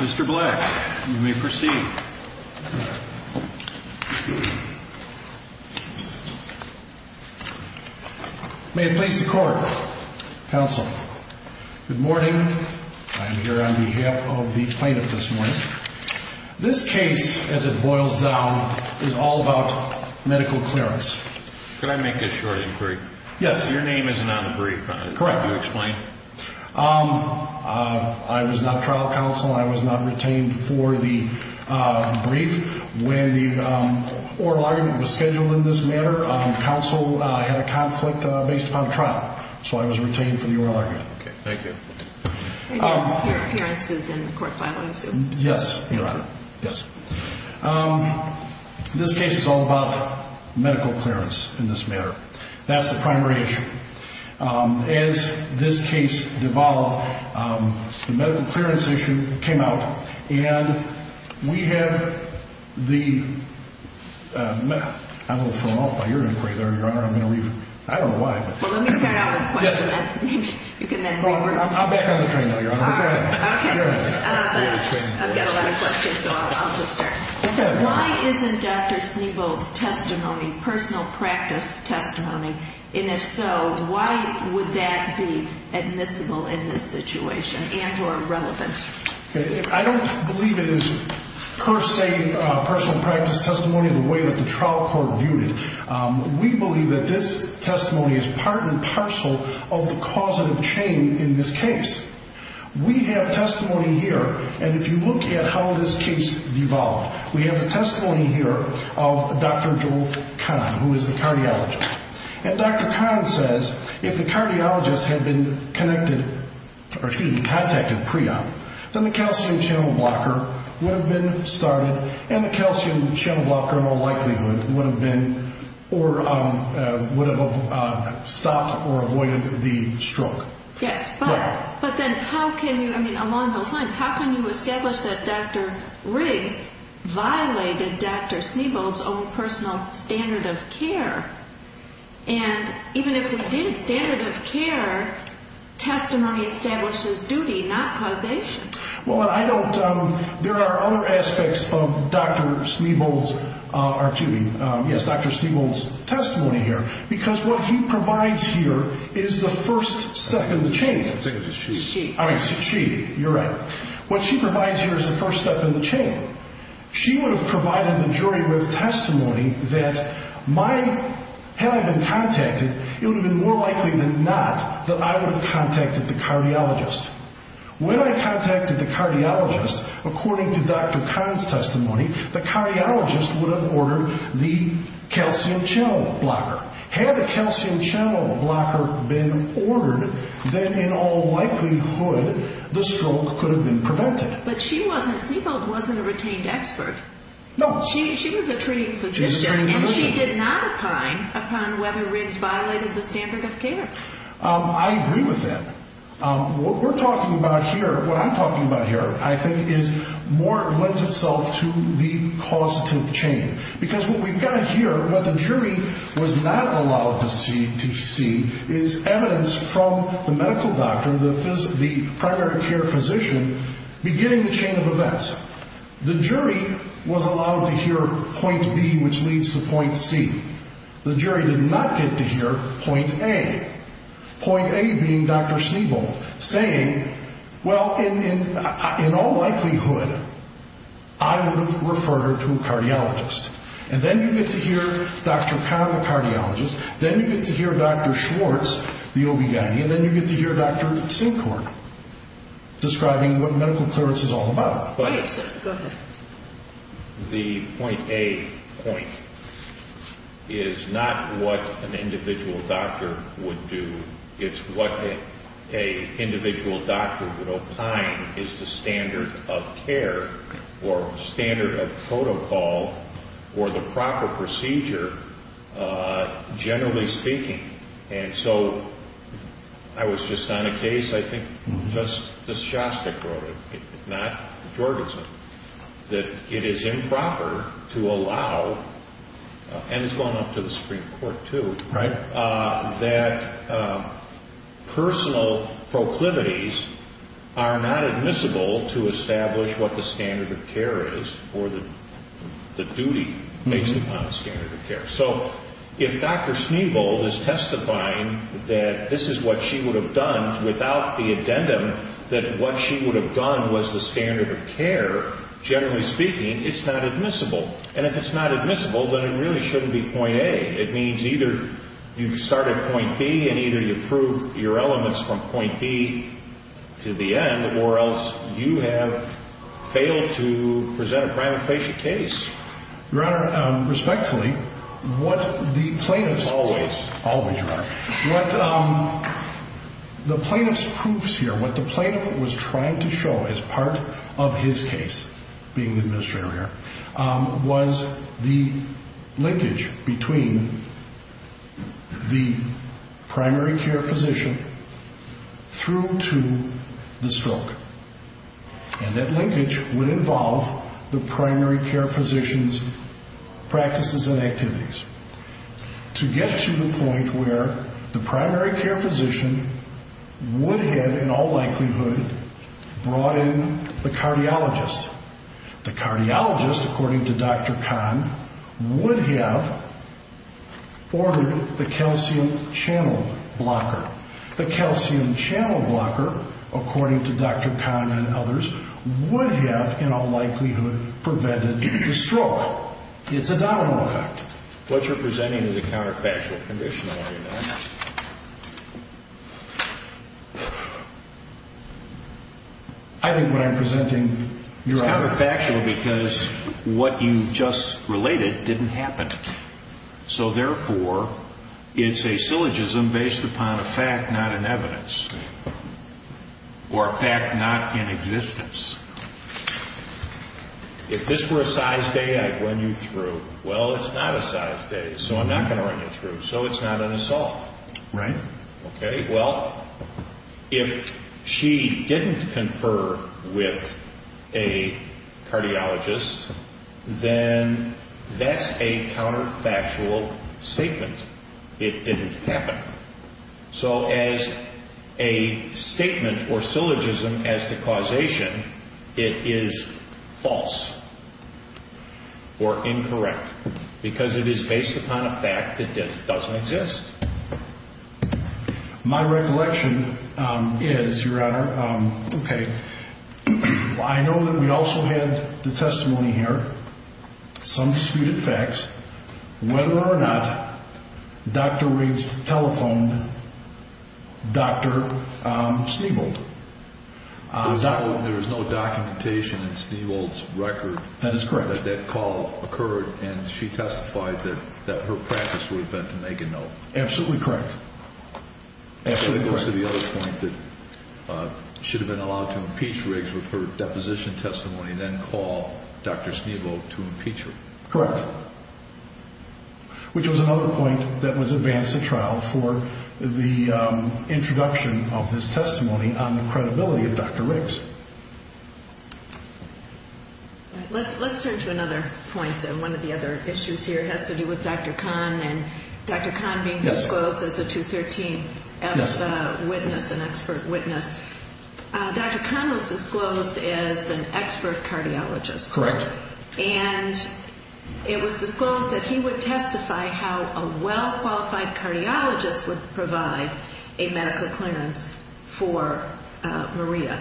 Mr. Black, you may proceed. May it please the court, counsel. Good morning. I'm here on behalf of the plaintiff this morning. This case, as it boils down, is all about medical clearance. Could I make a short inquiry? Yes. Your name is not on the brief. Correct. Can you explain? I was not trial counsel. I was not retained for the brief. When the oral argument was scheduled in this matter, counsel had a conflict based upon trial. So I was retained for the oral argument. Thank you. Your appearance is in the court file, I assume. Yes, Your Honor. Yes. This case is all about medical clearance in this matter. That's the primary issue. As this case devolved, the medical clearance issue came out. And we have the... I'm a little thrown off by your inquiry there, Your Honor. I'm going to leave it. I don't know why. Well, let me start out with a question. Yes, ma'am. You can then reword. I'm back on the train now, Your Honor. All right. Okay. Go ahead. I've got a lot of questions, so I'll just start. Okay. Why isn't Dr. Snebold's testimony personal practice testimony? And if so, why would that be admissible in this situation and or relevant? I don't believe it is per se personal practice testimony the way that the trial court viewed it. We believe that this testimony is part and parcel of the causative chain in this case. We have testimony here, and if you look at how this case devolved, we have the testimony here of Dr. Joel Kahn, who is the cardiologist. And Dr. Kahn says if the cardiologist had been connected or, excuse me, contacted PRE-OP, then the calcium channel blocker would have been started and the calcium channel blocker in all likelihood would have been or would have stopped or avoided the stroke. Yes. But then how can you, I mean, along those lines, how can you establish that Dr. Riggs violated Dr. Snebold's own personal standard of care? And even if we did standard of care, testimony establishes duty, not causation. Well, I don't, there are other aspects of Dr. Snebold's, or Judy, yes, Dr. Snebold's testimony here, because what he provides here is the first step in the chain. I think it's she. She. All right, so she, you're right. What she provides here is the first step in the chain. She would have provided the jury with testimony that my, had I been contacted, it would have been more likely than not that I would have contacted the cardiologist. When I contacted the cardiologist, according to Dr. Kahn's testimony, the cardiologist would have ordered the calcium channel blocker. Had a calcium channel blocker been ordered, then in all likelihood the stroke could have been prevented. But she wasn't, Snebold wasn't a retained expert. No. She was a treating physician. She was a treating physician. And she did not opine upon whether Riggs violated the standard of care. I agree with that. What we're talking about here, what I'm talking about here, I think, is more lends itself to the causative chain. Because what we've got here, what the jury was not allowed to see is evidence from the medical doctor, the primary care physician, beginning the chain of events. The jury was allowed to hear point B, which leads to point C. The jury did not get to hear point A. Point A being Dr. Snebold saying, well, in all likelihood, I would have referred her to a cardiologist. And then you get to hear Dr. Kahn, the cardiologist. Then you get to hear Dr. Schwartz, the OB-GYN. And then you get to hear Dr. Sinkhorn describing what medical clearance is all about. Go ahead. The point A point is not what an individual doctor would do. It's what an individual doctor would opine is the standard of care or standard of protocol or the proper procedure, generally speaking. And so I was just on a case, I think, just as Shostak wrote it, not Jorgensen, that it is improper to allow, and it's going up to the Supreme Court, too, that personal proclivities are not admissible to establish what the standard of care is or the duty based upon the standard of care. So if Dr. Snebold is testifying that this is what she would have done without the addendum that what she would have done was the standard of care, generally speaking, it's not admissible. And if it's not admissible, then it really shouldn't be point A. It means either you start at point B and either you prove your elements from point B to the end, or else you have failed to present a primary patient case. Your Honor, respectfully, what the plaintiff's... Always. Always, Your Honor. What the plaintiff's proofs here, what the plaintiff was trying to show as part of his case, being the administrator here, was the linkage between the primary care physician through to the stroke. And that linkage would involve the primary care physician's practices and activities. To get to the point where the primary care physician would have in all likelihood brought in the cardiologist. The cardiologist, according to Dr. Kahn, would have ordered the calcium channel blocker. The calcium channel blocker, according to Dr. Kahn and others, would have in all likelihood prevented the stroke. It's a domino effect. What you're presenting is a counterfactual condition, Your Honor. I think what I'm presenting, Your Honor... It's counterfactual because what you just related didn't happen. So therefore, it's a syllogism based upon a fact, not an evidence. Or a fact not in existence. If this were a size day, I'd run you through. Well, it's not a size day, so I'm not going to run you through. So it's not an assault. Right. Okay, well, if she didn't confer with a cardiologist, then that's a counterfactual statement. It didn't happen. So as a statement or syllogism as to causation, it is false or incorrect. Because it is based upon a fact that doesn't exist. My recollection is, Your Honor, okay, I know that we also had the testimony here. Some disputed facts. Whether or not Dr. Riggs telephoned Dr. Stiebold. There was no documentation in Stiebold's record. That is correct. And she testified that her practice would have been to make a note. Absolutely correct. Absolutely correct. It goes to the other point that she would have been allowed to impeach Riggs with her deposition testimony and then call Dr. Stiebold to impeach her. Correct. Which was another point that was advanced at trial for the introduction of this testimony on the credibility of Dr. Riggs. Let's turn to another point. One of the other issues here has to do with Dr. Kahn and Dr. Kahn being disclosed as a 213F witness, an expert witness. Dr. Kahn was disclosed as an expert cardiologist. Correct. And it was disclosed that he would testify how a well-qualified cardiologist would provide a medical clearance for Maria.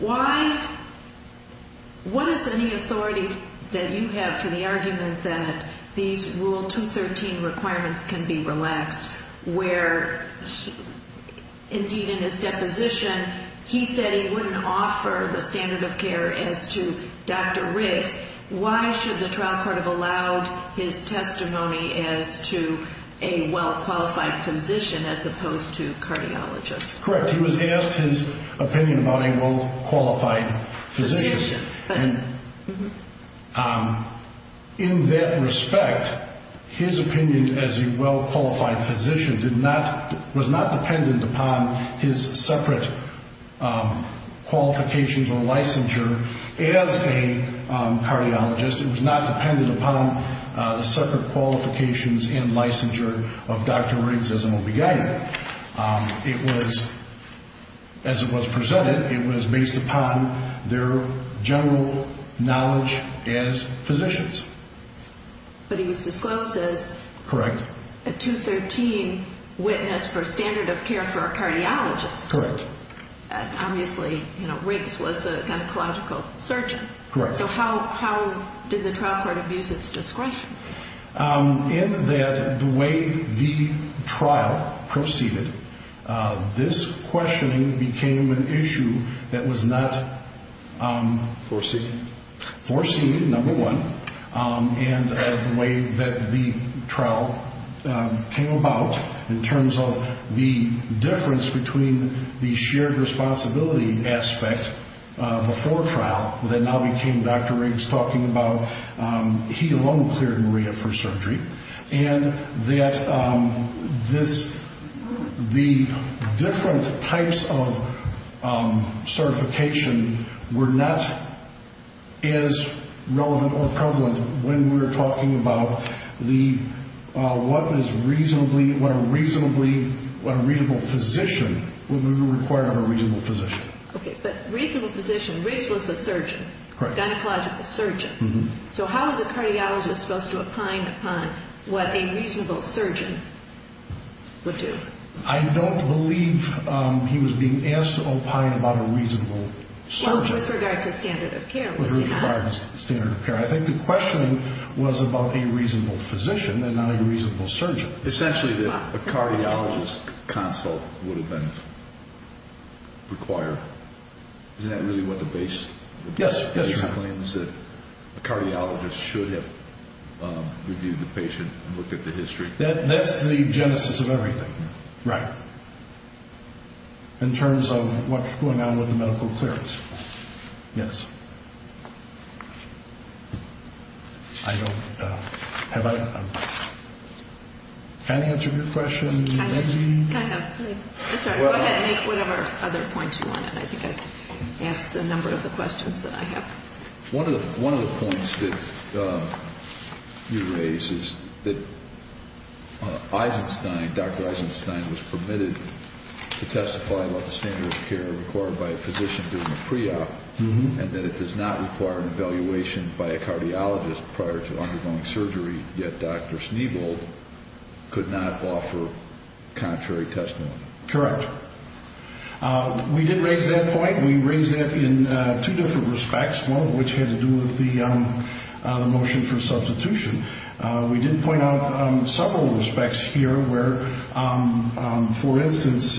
Why? What is any authority that you have for the argument that these Rule 213 requirements can be relaxed, where indeed in his deposition he said he wouldn't offer the standard of care as to Dr. Riggs. Why should the trial court have allowed his testimony as to a well-qualified physician as opposed to a cardiologist? Correct. He was asked his opinion about a well-qualified physician. Physician. And in that respect, his opinion as a well-qualified physician was not dependent upon his separate qualifications or licensure as a cardiologist. It was not dependent upon the separate qualifications and licensure of Dr. Riggs as an OB-GYN. It was, as it was presented, it was based upon their general knowledge as physicians. But he was disclosed as a 213 witness for standard of care for a cardiologist. Correct. Obviously, you know, Riggs was a gynecological surgeon. Correct. So how did the trial court abuse its discretion? In that the way the trial proceeded, this questioning became an issue that was not… Foreseen. Foreseen, number one. And the way that the trial came about in terms of the difference between the shared responsibility aspect before trial, that now became Dr. Riggs talking about, he alone cleared Maria for surgery, and that this, the different types of certification were not as relevant or prevalent when we were talking about the, what is reasonably, what a reasonably, what a reasonable physician, would we require of a reasonable physician. Okay, but reasonable physician, Riggs was a surgeon. Correct. Gynecological surgeon. Mm-hmm. So how is a cardiologist supposed to opine upon what a reasonable surgeon would do? I don't believe he was being asked to opine about a reasonable surgeon. Well, with regard to standard of care, was he not? With regard to standard of care. I think the question was about a reasonable physician and not a reasonable surgeon. Essentially, a cardiologist consult would have been required. Isn't that really what the base claims that a cardiologist should have reviewed the patient and looked at the history? That's the genesis of everything. Right. In terms of what's going on with the medical clearance. Yes. I don't, have I, can I answer your question? Kind of. Go ahead and make whatever other points you want. I think I've asked a number of the questions that I have. One of the points that you raise is that Eisenstein, Dr. Eisenstein, was permitted to testify about the standard of care required by a physician doing a pre-op and that it does not require an evaluation by a cardiologist prior to undergoing surgery, yet Dr. Sneebold could not offer contrary testimony. Correct. We did raise that point. We raised that in two different respects, one of which had to do with the motion for substitution. We did point out several respects here where, for instance,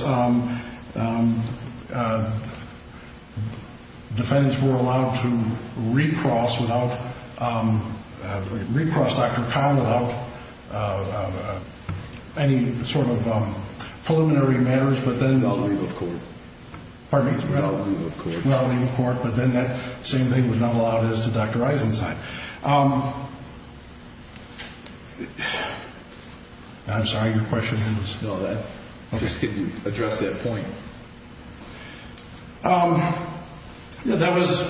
defendants were allowed to recross without, recross Dr. Kahn without any sort of preliminary matters, but then they'll leave the court. Pardon me? They'll leave the court. They'll leave the court, but then that same thing was not allowed as to Dr. Eisenstein. I'm sorry. Your question didn't dispel that. I'm just kidding. Address that point. That was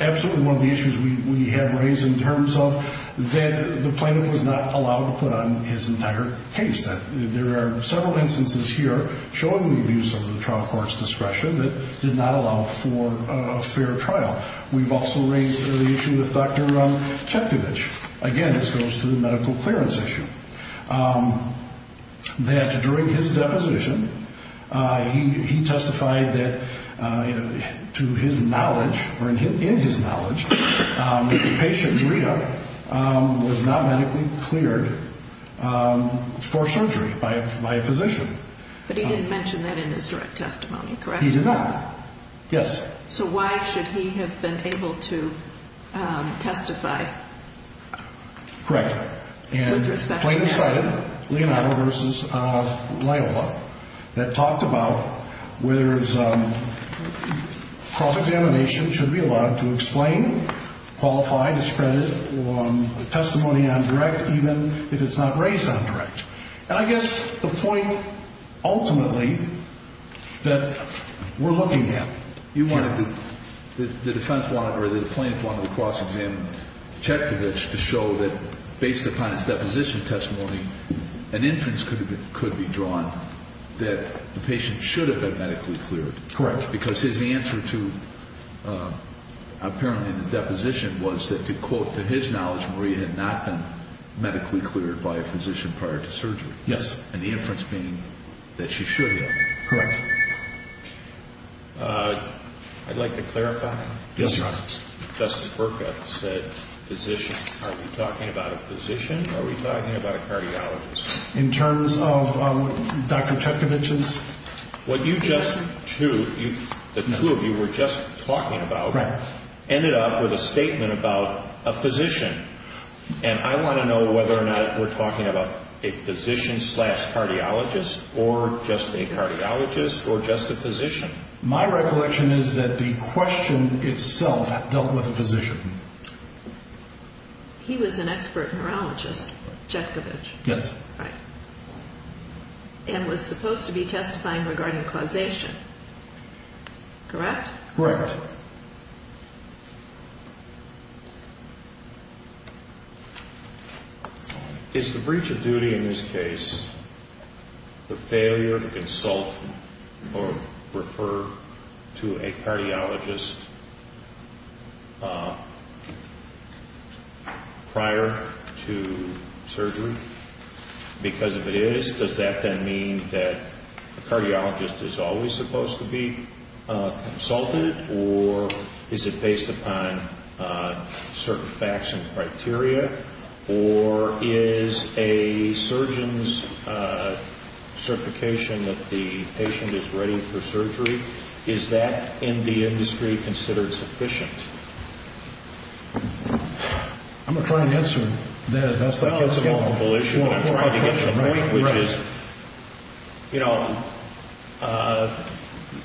absolutely one of the issues we have raised in terms of that the plaintiff was not allowed to put on his entire case. There are several instances here showing the abuse of the trial court's discretion that did not allow for a fair trial. We've also raised the issue with Dr. Chekhovich. Again, this goes to the medical clearance issue, that during his deposition, he testified that, to his knowledge or in his knowledge, the patient, Rhea, was not medically cleared for surgery by a physician. But he didn't mention that in his direct testimony, correct? He did not. Yes. So why should he have been able to testify with respect to that? The plaintiff cited Leonardo v. Loyola that talked about whether cross-examination should be allowed to explain, qualify, discredit testimony on direct, even if it's not raised on direct. And I guess the point, ultimately, that we're looking at. You wanted to, the defense wanted, or the plaintiff wanted to cross-examine Chekhovich to show that, based upon his deposition testimony, an inference could be drawn that the patient should have been medically cleared. Correct. Because his answer to apparently the deposition was that, to quote, to his knowledge, Maria had not been medically cleared by a physician prior to surgery. Yes. And the inference being that she should have. Correct. I'd like to clarify. Yes, Your Honor. Justice Berkoth said physician. Are we talking about a physician? Are we talking about a cardiologist? In terms of Dr. Chekhovich's? What you just, too, the two of you were just talking about. Right. Ended up with a statement about a physician. And I want to know whether or not we're talking about a physician slash cardiologist or just a cardiologist or just a physician. My recollection is that the question itself dealt with a physician. He was an expert neurologist, Chekhovich. Yes. Right. And was supposed to be testifying regarding causation. Correct? Correct. Is the breach of duty in this case the failure to consult or refer to a cardiologist prior to surgery? Because if it is, does that then mean that a cardiologist is always supposed to be consulted? Or is it based upon certain facts and criteria? Or is a surgeon's certification that the patient is ready for surgery, is that in the industry considered sufficient? I'm going to try and answer that. Well, it's a multiple issue, but I'm trying to get to the point, which is, you know,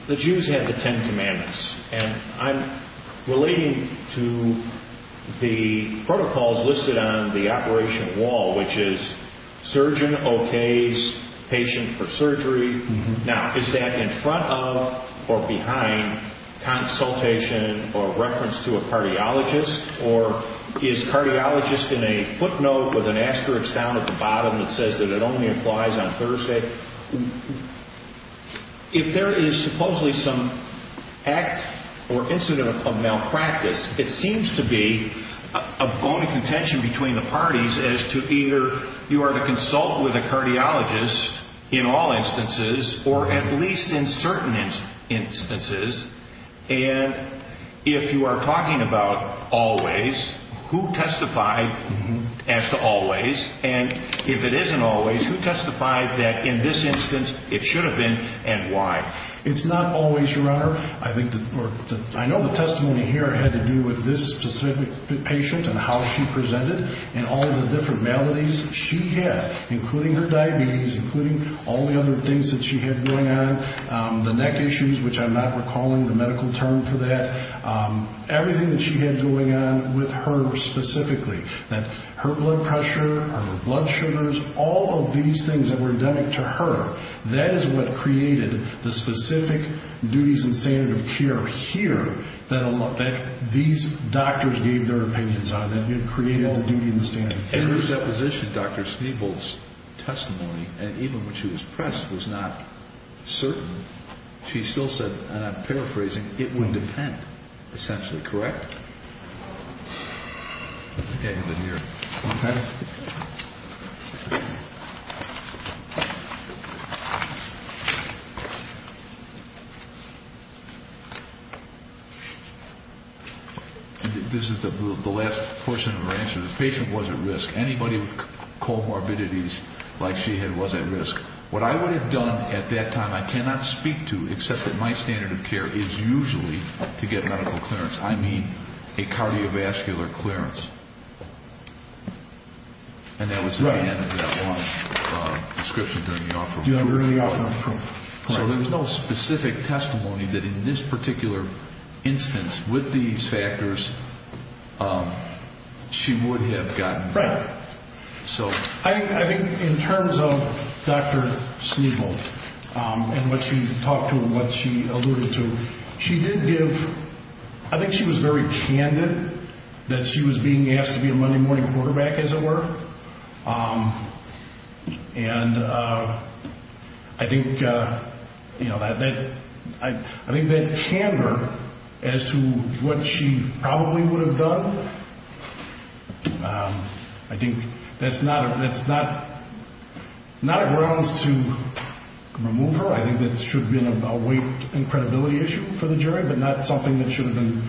the Jews had the Ten Commandments. And I'm relating to the protocols listed on the operation wall, which is surgeon okays patient for surgery. Now, is that in front of or behind consultation or reference to a cardiologist? Or is cardiologist in a footnote with an asterisk down at the bottom that says that it only applies on Thursday? If there is supposedly some act or incident of malpractice, it seems to be a bone of contention between the parties as to either you are to consult with a cardiologist in all instances or at least in certain instances. And if you are talking about always, who testified as to always? And if it isn't always, who testified that in this instance it should have been and why? It's not always, Your Honor. I know the testimony here had to do with this specific patient and how she presented and all the different maladies she had, including her diabetes, including all the other things that she had going on, the neck issues, which I'm not recalling the medical term for that, everything that she had going on with her specifically, that her blood pressure, her blood sugars, all of these things that were endemic to her, that is what created the specific duties and standard of care here that these doctors gave their opinions on, In her deposition, Dr. Stiebold's testimony, and even when she was pressed, was not certain. She still said, and I'm paraphrasing, it would depend, essentially, correct? I think I have it here. This is the last portion of her answer. The patient was at risk. Anybody with comorbidities like she had was at risk. What I would have done at that time, I cannot speak to, except that my standard of care is usually to get medical clearance. I mean a cardiovascular clearance. And that was the end of that one description during the offer. So there was no specific testimony that in this particular instance with these factors, she would have gotten better. I think in terms of Dr. Stiebold and what she talked to and what she alluded to, she did give, I think she was very candid that she was being asked to be a Monday morning quarterback, as it were. And I think that candor as to what she probably would have done, I think that's not a grounds to remove her. I think that should have been a weight and credibility issue for the jury, but not something that should have been.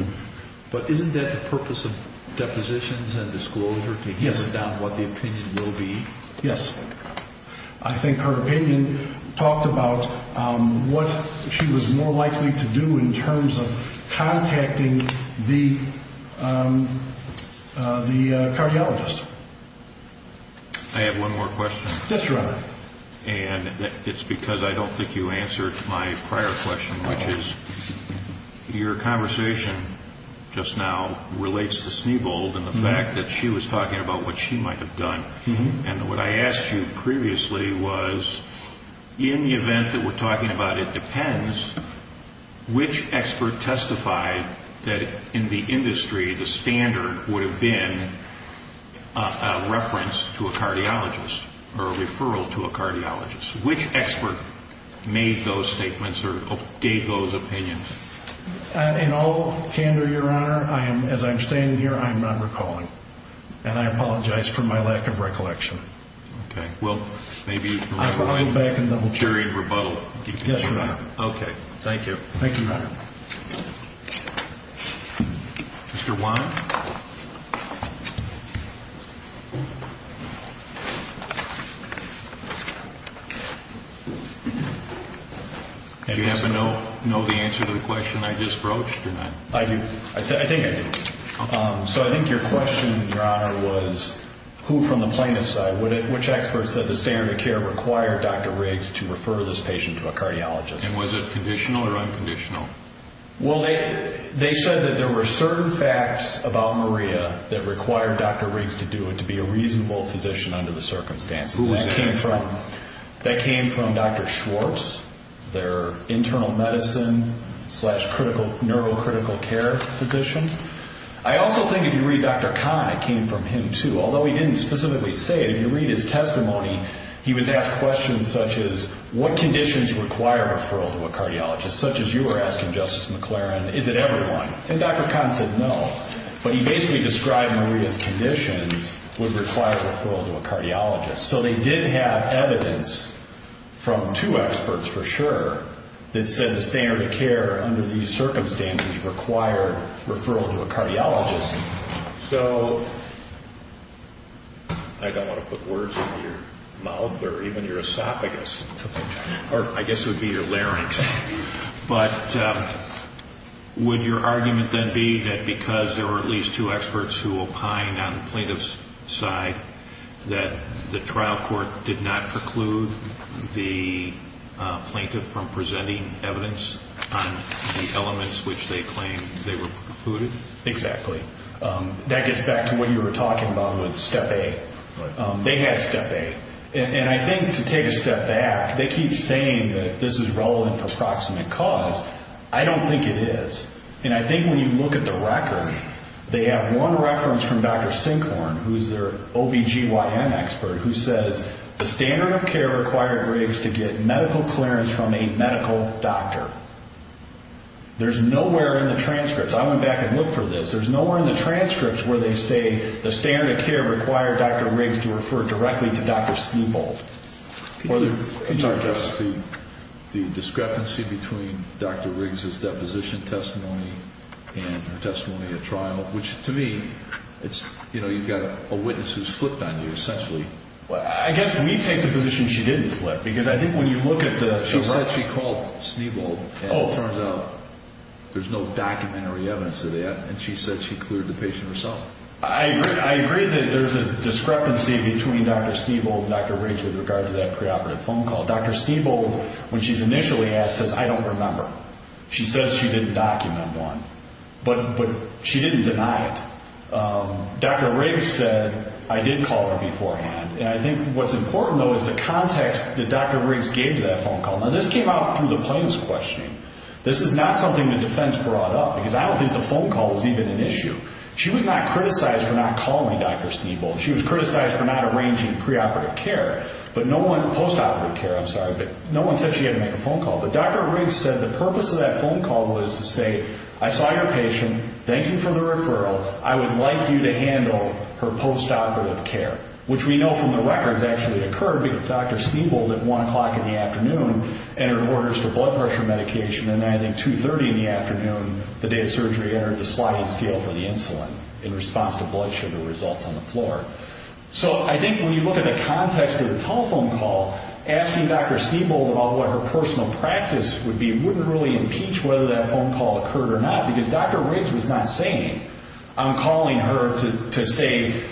But isn't that the purpose of depositions and disclosure to hear about what the opinion will be? Yes. I think her opinion talked about what she was more likely to do in terms of contacting the cardiologist. I have one more question. Yes, Your Honor. And it's because I don't think you answered my prior question, which is your conversation just now relates to Stiebold and the fact that she was talking about what she might have done. And what I asked you previously was, in the event that we're talking about it depends, which expert testified that in the industry the standard would have been a reference to a cardiologist or a referral to a cardiologist? Which expert made those statements or gave those opinions? In all candor, Your Honor, as I'm standing here, I'm not recalling. And I apologize for my lack of recollection. Okay. Well, maybe you can rewind during rebuttal. Yes, Your Honor. Okay. Thank you. Thank you, Your Honor. Mr. Wine? Do you happen to know the answer to the question I just broached or not? I do. I think I do. So I think your question, Your Honor, was who from the plaintiff's side, which expert said the standard of care required Dr. Riggs to refer this patient to a cardiologist? And was it conditional or unconditional? Well, they said that there were certain facts about Maria that required Dr. Riggs to do it, to be a reasonable physician under the circumstances. Who was that? That came from Dr. Schwartz, their internal medicine slash neurocritical care physician. I also think if you read Dr. Kahn, it came from him too. Although he didn't specifically say it, if you read his testimony, he would ask questions such as what conditions require referral to a cardiologist, such as you were asking, Justice McLaren, is it everyone? And Dr. Kahn said no. But he basically described Maria's conditions would require referral to a cardiologist. So they did have evidence from two experts for sure that said the standard of care under these circumstances required referral to a cardiologist. So I don't want to put words in your mouth or even your esophagus. It's okay, Justice. Or I guess it would be your larynx. But would your argument then be that because there were at least two experts who opined on the plaintiff's side that the trial court did not preclude the plaintiff from presenting evidence on the elements which they claimed they were precluded? Exactly. That gets back to what you were talking about with step A. They had step A. And I think to take a step back, they keep saying that this is relevant for proximate cause. I don't think it is. And I think when you look at the record, they have one reference from Dr. Sinkhorn, who is their OBGYN expert, who says the standard of care required Riggs to get medical clearance from a medical doctor. There's nowhere in the transcripts. I went back and looked for this. There's nowhere in the transcripts where they say the standard of care required Dr. Riggs to refer directly to Dr. Snebold. The discrepancy between Dr. Riggs' deposition testimony and her testimony at trial, which to me, you've got a witness who's flipped on you, essentially. I guess we take the position she didn't flip because I think when you look at the record, she called Snebold, and it turns out there's no documentary evidence of that, and she said she cleared the patient herself. I agree that there's a discrepancy between Dr. Snebold and Dr. Riggs with regard to that preoperative phone call. Dr. Snebold, when she's initially asked, says, I don't remember. She says she didn't document one, but she didn't deny it. Dr. Riggs said, I did call her beforehand. And I think what's important, though, is the context that Dr. Riggs gave to that phone call. Now, this came out through the plaintiff's questioning. This is not something the defense brought up because I don't think the phone call was even an issue. She was not criticized for not calling Dr. Snebold. She was criticized for not arranging preoperative care, postoperative care, I'm sorry, but no one said she had to make a phone call. But Dr. Riggs said the purpose of that phone call was to say, I saw your patient. Thank you for the referral. I would like you to handle her postoperative care, which we know from the records actually occurred because Dr. Snebold at 1 o'clock in the afternoon entered orders for blood pressure medication, and then I think 2.30 in the afternoon, the day of surgery, entered the sliding scale for the insulin in response to blood sugar results on the floor. So I think when you look at the context of the telephone call, asking Dr. Snebold about what her personal practice would be wouldn't really impeach whether that phone call occurred or not because Dr. Riggs was not saying, I'm calling her to say,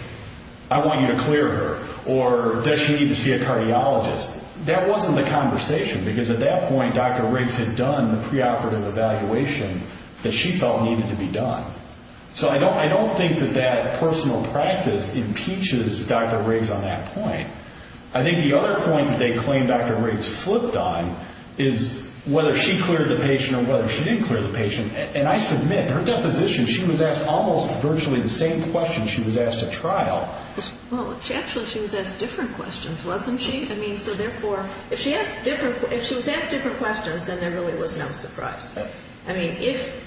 I want you to clear her, or does she need to see a cardiologist, that wasn't the conversation because at that point Dr. Riggs had done the preoperative evaluation that she felt needed to be done. So I don't think that that personal practice impeaches Dr. Riggs on that point. I think the other point that they claim Dr. Riggs flipped on is whether she cleared the patient or whether she didn't clear the patient. And I submit, her deposition, she was asked almost virtually the same question she was asked at trial. Well, actually she was asked different questions, wasn't she? I mean, so therefore, if she was asked different questions, then there really was no surprise. I mean, if,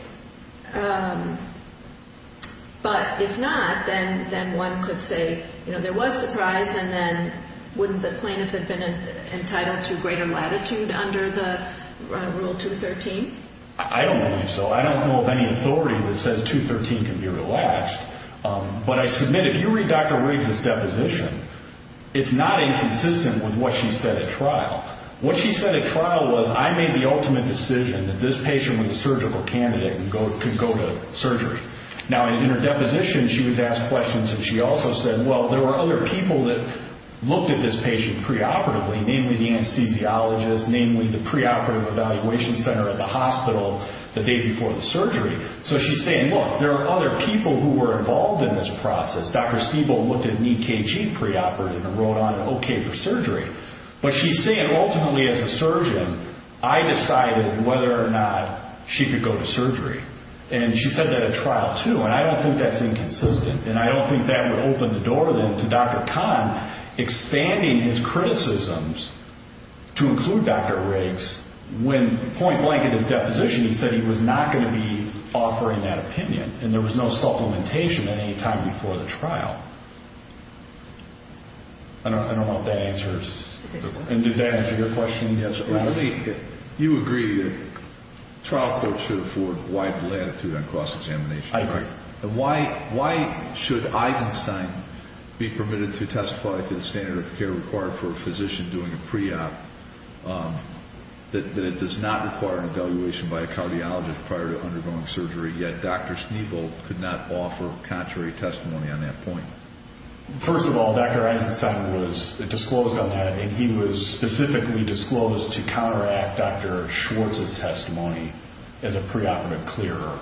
but if not, then one could say, you know, there was surprise and then wouldn't the plaintiff have been entitled to greater latitude under the Rule 213? I don't think so. I don't know of any authority that says 213 can be relaxed. But I submit, if you read Dr. Riggs' deposition, it's not inconsistent with what she said at trial. What she said at trial was, I made the ultimate decision that this patient was a surgical candidate and could go to surgery. Now, in her deposition, she was asked questions and she also said, well, there were other people that looked at this patient preoperatively, namely the anesthesiologist, namely the preoperative evaluation center at the hospital the day before the surgery. So she's saying, look, there are other people who were involved in this process. Dr. Stiebel looked at knee KG preoperative and wrote on it, okay for surgery. But she's saying, ultimately, as a surgeon, I decided whether or not she could go to surgery. And she said that at trial, too, and I don't think that's inconsistent and I don't think that would open the door then to Dr. Kahn expanding his criticisms to include Dr. Riggs when point blank in his deposition he said he was not going to be offering that opinion and there was no supplementation at any time before the trial. I don't know if that answers and did that answer your question? Yes. You agree that trial courts should afford wide latitude on cost examination. Right. Why should Eisenstein be permitted to testify to the standard of care required for a physician doing a pre-op that it does not require an evaluation by a cardiologist prior to undergoing surgery, yet Dr. Stiebel could not offer contrary testimony on that point? First of all, Dr. Eisenstein was disclosed on that and he was specifically disclosed to counteract Dr. Schwartz's testimony as a preoperative clearer.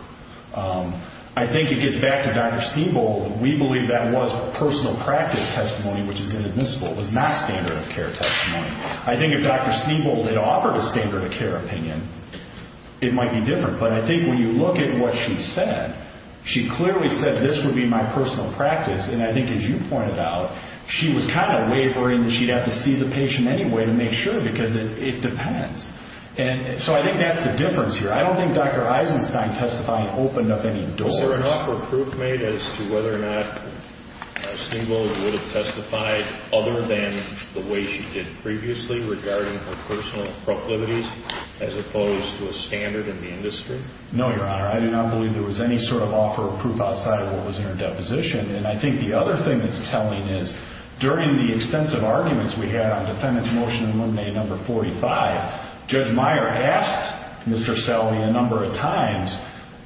I think it gets back to Dr. Stiebel. We believe that was personal practice testimony, which is inadmissible. It was not standard of care testimony. I think if Dr. Stiebel had offered a standard of care opinion, it might be different, but I think when you look at what she said, she clearly said this would be my personal practice and I think as you pointed out, she was kind of wavering that she'd have to see the patient anyway to make sure because it depends. So I think that's the difference here. I don't think Dr. Eisenstein testifying opened up any doors. Was there an offer of proof made as to whether or not Stiebel would have testified other than the way she did previously regarding her personal proclivities as opposed to a standard in the industry? No, Your Honor. I do not believe there was any sort of offer of proof outside of what was in her deposition and I think the other thing that's telling is, during the extensive arguments we had on Defendant to Motion and Eliminate No. 45, Judge Meyer asked Mr. Selby a number of times,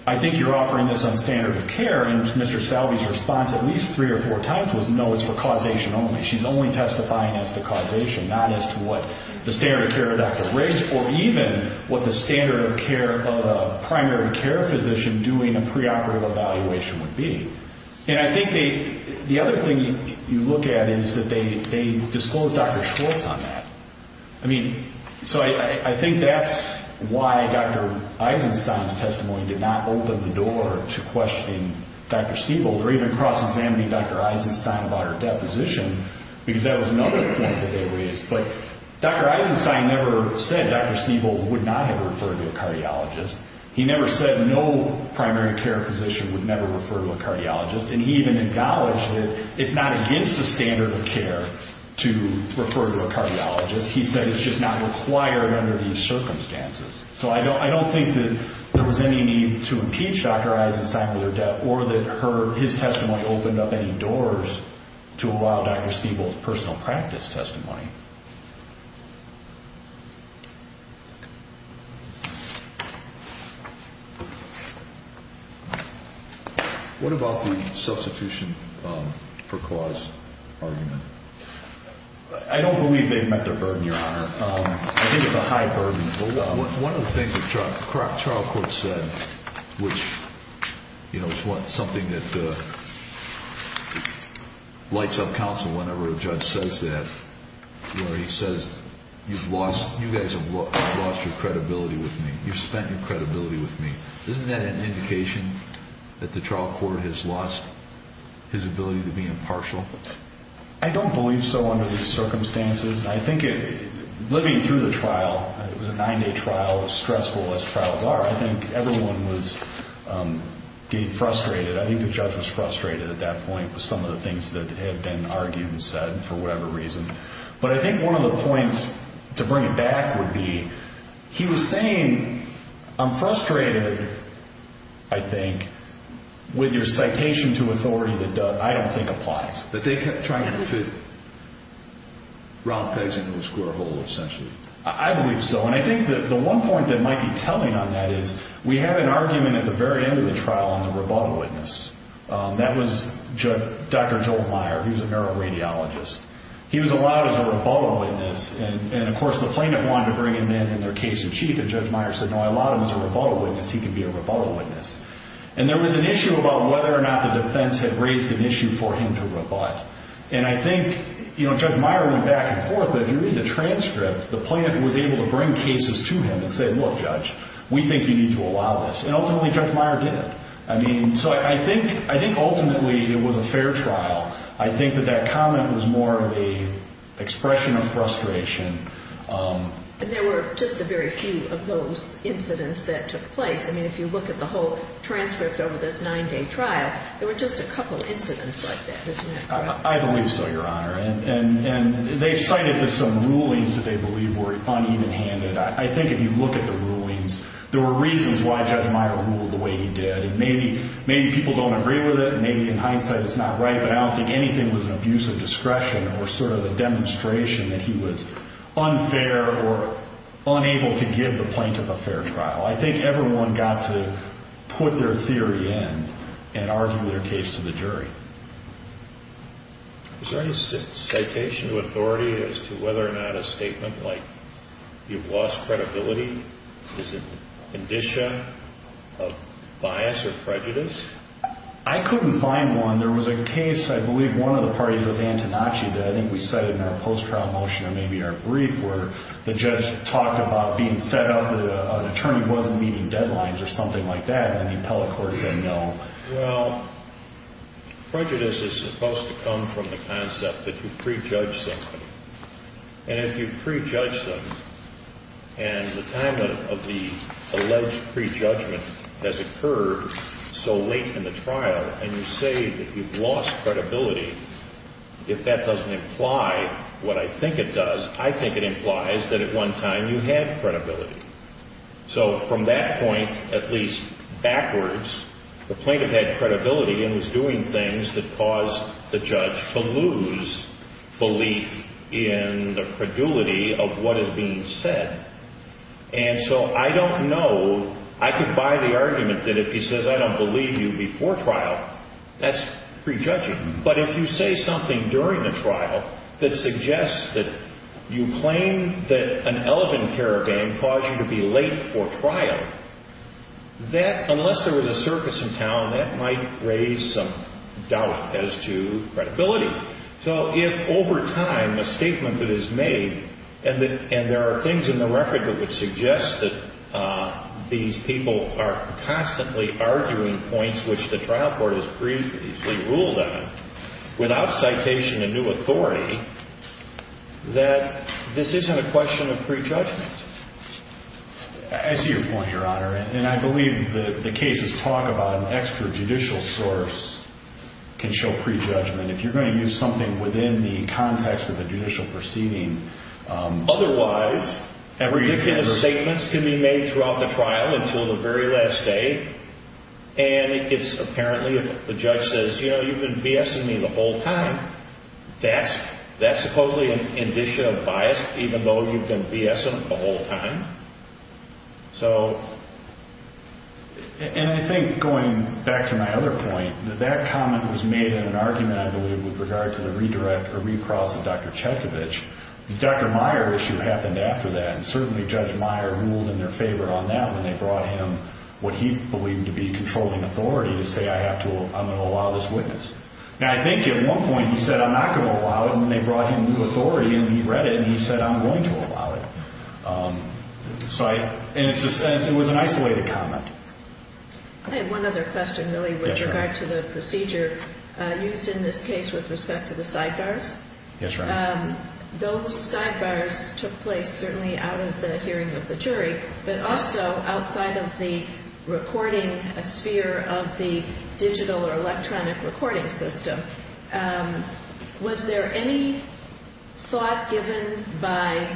I think you're offering this on standard of care and Mr. Selby's response at least three or four times was no, it's for causation only. She's only testifying as to causation, not as to what the standard of care of Dr. Riggs or even what the standard of care of a primary care physician doing a preoperative evaluation would be. And I think the other thing you look at is that they disclosed Dr. Schwartz on that. So I think that's why Dr. Eisenstein's testimony did not open the door to questioning Dr. Stiebel or even cross-examining Dr. Eisenstein about her deposition because that was another point that they raised. But Dr. Eisenstein never said Dr. Stiebel would not have referred to a cardiologist. He never said no primary care physician would never refer to a cardiologist and he even acknowledged that it's not against the standard of care to refer to a cardiologist. He said it's just not required under these circumstances. So I don't think that there was any need to impeach Dr. Eisenstein with her death or that his testimony opened up any doors to allow Dr. Stiebel's personal practice testimony. What about the substitution for cause argument? I don't believe they've met their burden, Your Honor. I think it's a high burden. One of the things the trial court said, which is something that lights up counsel whenever a judge says that, where he says, you guys have lost your credibility with me, you've spent your credibility with me. Isn't that an indication that the trial court has lost his ability to be impartial? I don't believe so under these circumstances. I think living through the trial, it was a nine-day trial, as stressful as trials are, I think everyone was getting frustrated. I think the judge was frustrated at that point with some of the things that had been argued and said for whatever reason. But I think one of the points to bring back would be he was saying, I'm frustrated, I think, with your citation to authority that I don't think applies, that they kept trying to fit round pegs into a square hole, essentially. I believe so, and I think that the one point that might be telling on that is we had an argument at the very end of the trial on the rebuttal witness. That was Dr. Joel Meyer. He was a neuroradiologist. He was allowed as a rebuttal witness, and, of course, the plaintiff wanted to bring him in in their case in chief, and Judge Meyer said, no, I allowed him as a rebuttal witness. He can be a rebuttal witness. And there was an issue about whether or not the defense had raised an issue for him to rebut. And I think, you know, Judge Meyer went back and forth, but if you read the transcript, the plaintiff was able to bring cases to him and say, look, Judge, we think you need to allow this. And ultimately, Judge Meyer did. I mean, so I think ultimately it was a fair trial. I think that that comment was more of an expression of frustration. But there were just a very few of those incidents that took place. I mean, if you look at the whole transcript over this nine-day trial, there were just a couple incidents like that, isn't that correct? I believe so, Your Honor. And they cited some rulings that they believe were uneven-handed. I think if you look at the rulings, there were reasons why Judge Meyer ruled the way he did. Maybe people don't agree with it, maybe in hindsight it's not right, but I don't think anything was an abuse of discretion or sort of a demonstration that he was unfair or unable to give the plaintiff a fair trial. I think everyone got to put their theory in and argue their case to the jury. Is there any citation of authority as to whether or not a statement like you've lost credibility is a condition of bias or prejudice? I couldn't find one. There was a case, I believe one of the parties was Antonacci, that I think we cited in our post-trial motion or maybe our brief, where the judge talked about being fed up that an attorney wasn't meeting deadlines or something like that, and then the appellate court said no. Well, prejudice is supposed to come from the concept that you prejudge something. And if you prejudge something and the time of the alleged prejudgment has occurred so late in the trial and you say that you've lost credibility, if that doesn't imply what I think it does, I think it implies that at one time you had credibility. So from that point, at least backwards, the plaintiff had credibility and was doing things that caused the judge to lose belief in the credulity of what is being said. And so I don't know. I could buy the argument that if he says I don't believe you before trial, that's prejudging. But if you say something during the trial that suggests that you claim that an elephant caravan caused you to be late for trial, that, unless there was a circus in town, that might raise some doubt as to credibility. So if over time a statement is made and there are things in the record that would suggest that these people are constantly arguing points which the trial court has previously ruled on without citation of new authority, that this isn't a question of prejudgment. I see your point, Your Honor. And I believe the cases talk about an extrajudicial source can show prejudgment. If you're going to use something within the context of a judicial proceeding, otherwise, ridiculous statements can be made throughout the trial until the very last day, and it's apparently if the judge says, you know, you've been BSing me the whole time, that's supposedly an indication of bias even though you've been BSing the whole time. And I think going back to my other point, that comment was made in an argument, I believe, with regard to the redirect or recross of Dr. Chekovich. The Dr. Meyer issue happened after that, and certainly Judge Meyer ruled in their favor on that when they brought him what he believed to be controlling authority to say, I'm going to allow this witness. Now, I think at one point he said, I'm not going to allow it, and then they brought him new authority and he read it and he said, I'm going to allow it. And it was an isolated comment. I have one other question, really, with regard to the procedure used in this case with respect to the sidebars. Those sidebars took place certainly out of the hearing of the jury, but also outside of the recording sphere of the digital or electronic recording system. Was there any thought given by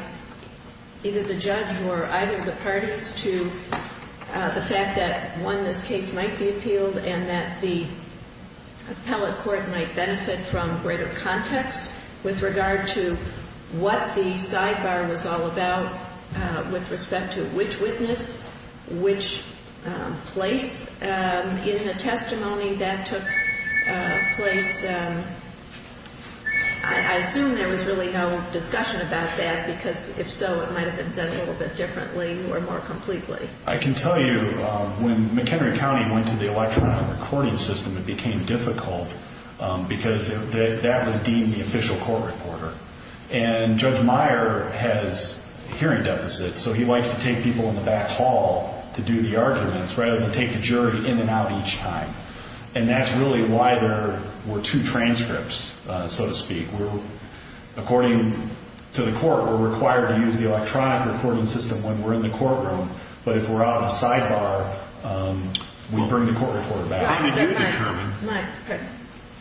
either the judge or either of the parties to the fact that, one, this case might be appealed and that the appellate court might benefit from greater context with regard to what the sidebar was all about with respect to which witness, which place in the testimony that took place? I assume there was really no discussion about that, because if so, it might have been done a little bit differently or more completely. I can tell you when McHenry County went to the electronic recording system, it became difficult because that was deemed the official court reporter. And Judge Meyer has hearing deficits, so he likes to take people in the back hall to do the arguments rather than take the jury in and out each time. And that's really why there were two transcripts, so to speak. According to the court, we're required to use the electronic recording system when we're in the courtroom, but if we're out in the sidebar, we bring the court reporter back.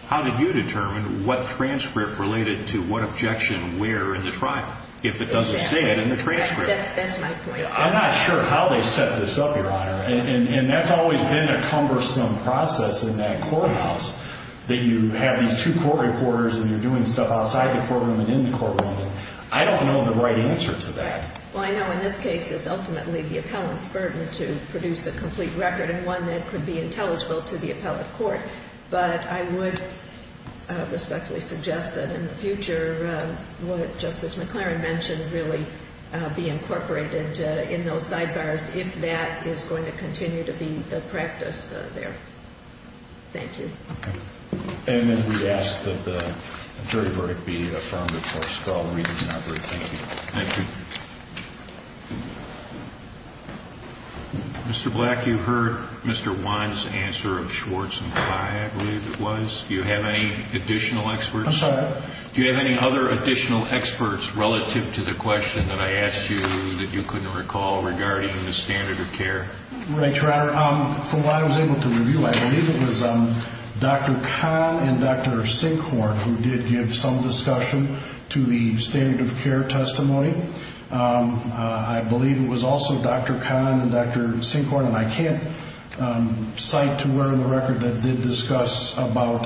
How did you determine what transcript related to what objection where in the trial, if it doesn't say it in the transcript? That's my point. I'm not sure how they set this up, Your Honor. And that's always been a cumbersome process in that courthouse, that you have these two court reporters and you're doing stuff outside the courtroom and in the courtroom. I don't know the right answer to that. Well, I know in this case it's ultimately the appellant's burden to produce a complete record and one that could be intelligible to the appellate court, but I would respectfully suggest that in the future what Justice McLaren mentioned really be incorporated in those sidebars if that is going to continue to be the practice there. Thank you. And if we ask that the jury verdict be affirmed before us, we'll read it in our brief. Thank you. Thank you. Mr. Black, you heard Mr. Wine's answer of Schwartz and Pye, I believe it was. Do you have any additional experts? I'm sorry? Do you have any other additional experts relative to the question that I asked you that you couldn't recall regarding the standard of care? Your Honor, from what I was able to review, I believe it was Dr. Kahn and Dr. Sinkhorn who did give some discussion to the standard of care testimony. I believe it was also Dr. Kahn and Dr. Sinkhorn, and I can't cite to where in the record that did discuss about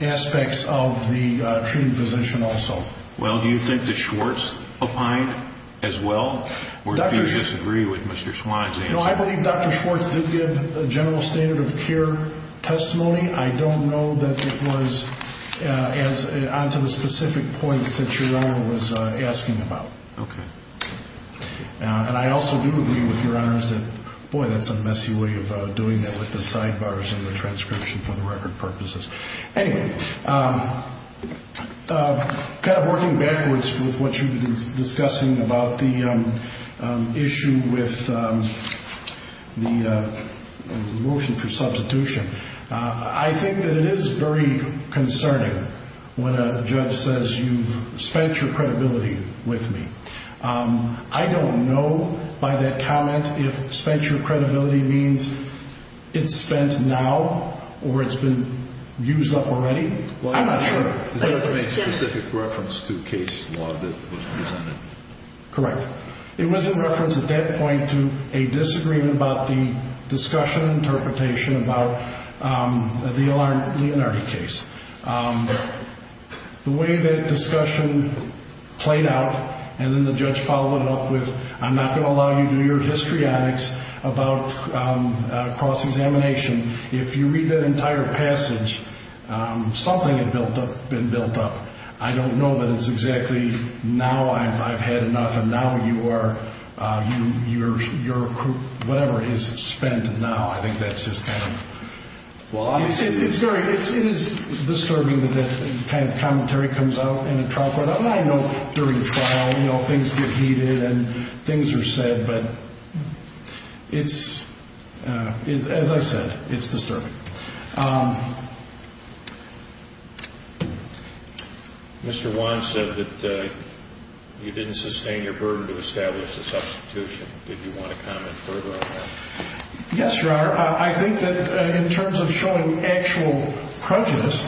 aspects of the treating physician also. Well, do you think that Schwartz opined as well, or do you disagree with Mr. Swine's answer? No, I believe Dr. Schwartz did give a general standard of care testimony. I don't know that it was on to the specific points that Your Honor was asking about. Okay. And I also do agree with Your Honors that, boy, that's a messy way of doing that with the sidebars and the transcription for the record purposes. Anyway, kind of working backwards with what you were discussing about the issue with the motion for substitution, I think that it is very concerning when a judge says you've spent your credibility with me. I don't know by that comment if spent your credibility means it's spent now or it's been used up already. I'm not sure. Did the judge make specific reference to case law that was presented? Correct. It was in reference at that point to a disagreement about the discussion interpretation about the Leonardi case. The way that discussion played out and then the judge followed it up with, I'm not going to allow you to do your histrionics about cross-examination, if you read that entire passage, something had been built up. I don't know that it's exactly now I've had enough and now you are, whatever is spent now. I think that's just kind of flawed. It is disturbing that that kind of commentary comes out in a trial court. I know during trial things get heated and things are said, but as I said, it's disturbing. Mr. Wan said that you didn't sustain your burden to establish a substitution. Did you want to comment further on that? Yes, Your Honor. I think that in terms of showing actual prejudice,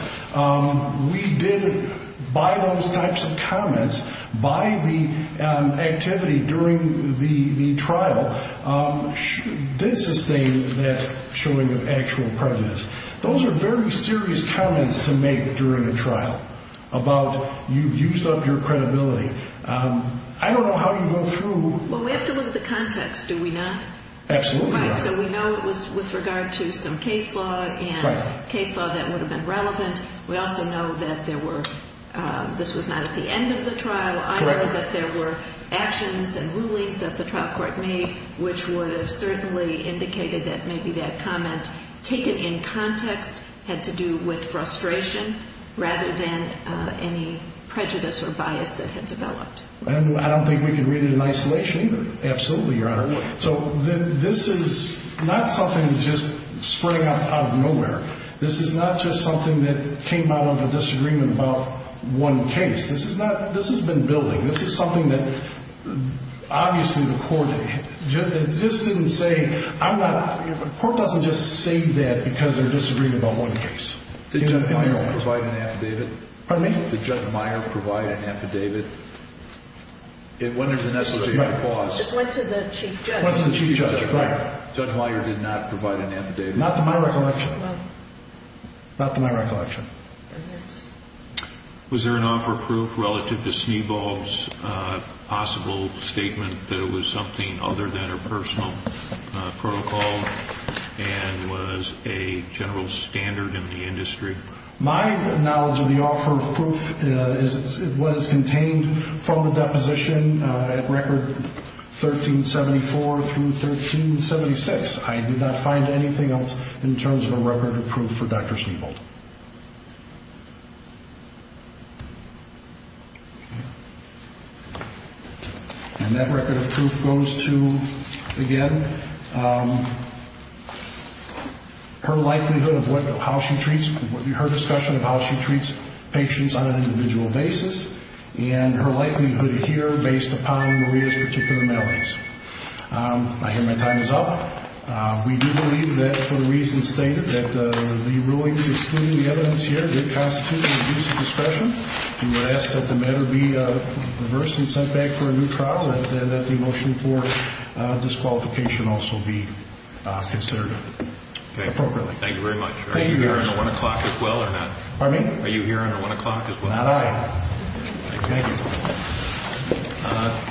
we did, by those types of comments, by the activity during the trial, did sustain that showing of actual prejudice. Those are very serious comments to make during a trial about you've used up your credibility. I don't know how you go through. We have to look at the context, do we not? Absolutely not. We know it was with regard to some case law and case law that would have been relevant. We also know that this was not at the end of the trial. I know that there were actions and rulings that the trial court made, which would have certainly indicated that maybe that comment, taken in context, had to do with frustration rather than any prejudice or bias that had developed. I don't think we can read it in isolation either. Absolutely, Your Honor. This is not something that just sprang up out of nowhere. This is not just something that came out of a disagreement about one case. This has been building. This is something that obviously the court didn't say. The court doesn't just say that because they're disagreeing about one case. Did Judd Meier provide an affidavit? Pardon me? Did Judd Meier provide an affidavit? It went into the necessary clause. It just went to the chief judge. Went to the chief judge, right. Judd Meier did not provide an affidavit. Not to my recollection. Not to my recollection. Was there an offer of proof relative to Snydvall's possible statement that it was something other than a personal protocol and was a general standard in the industry? My knowledge of the offer of proof is it was contained from the deposition at record 1374 through 1376. I did not find anything else in terms of a record of proof for Dr. Snydvall. And that record of proof goes to, again, her likelihood of how she treats, her discussion of how she treats patients on an individual basis and her likelihood here based upon Maria's particular maladies. I hear my time is up. We do believe that for the reasons stated, that the rulings excluding the evidence here did constitute an abuse of discretion. We would ask that the matter be reversed and sent back for a new trial and that the motion for disqualification also be considered appropriately. Thank you very much. Are you here under 1 o'clock as well or not? Pardon me? Are you here under 1 o'clock as well? Not I. Thank you.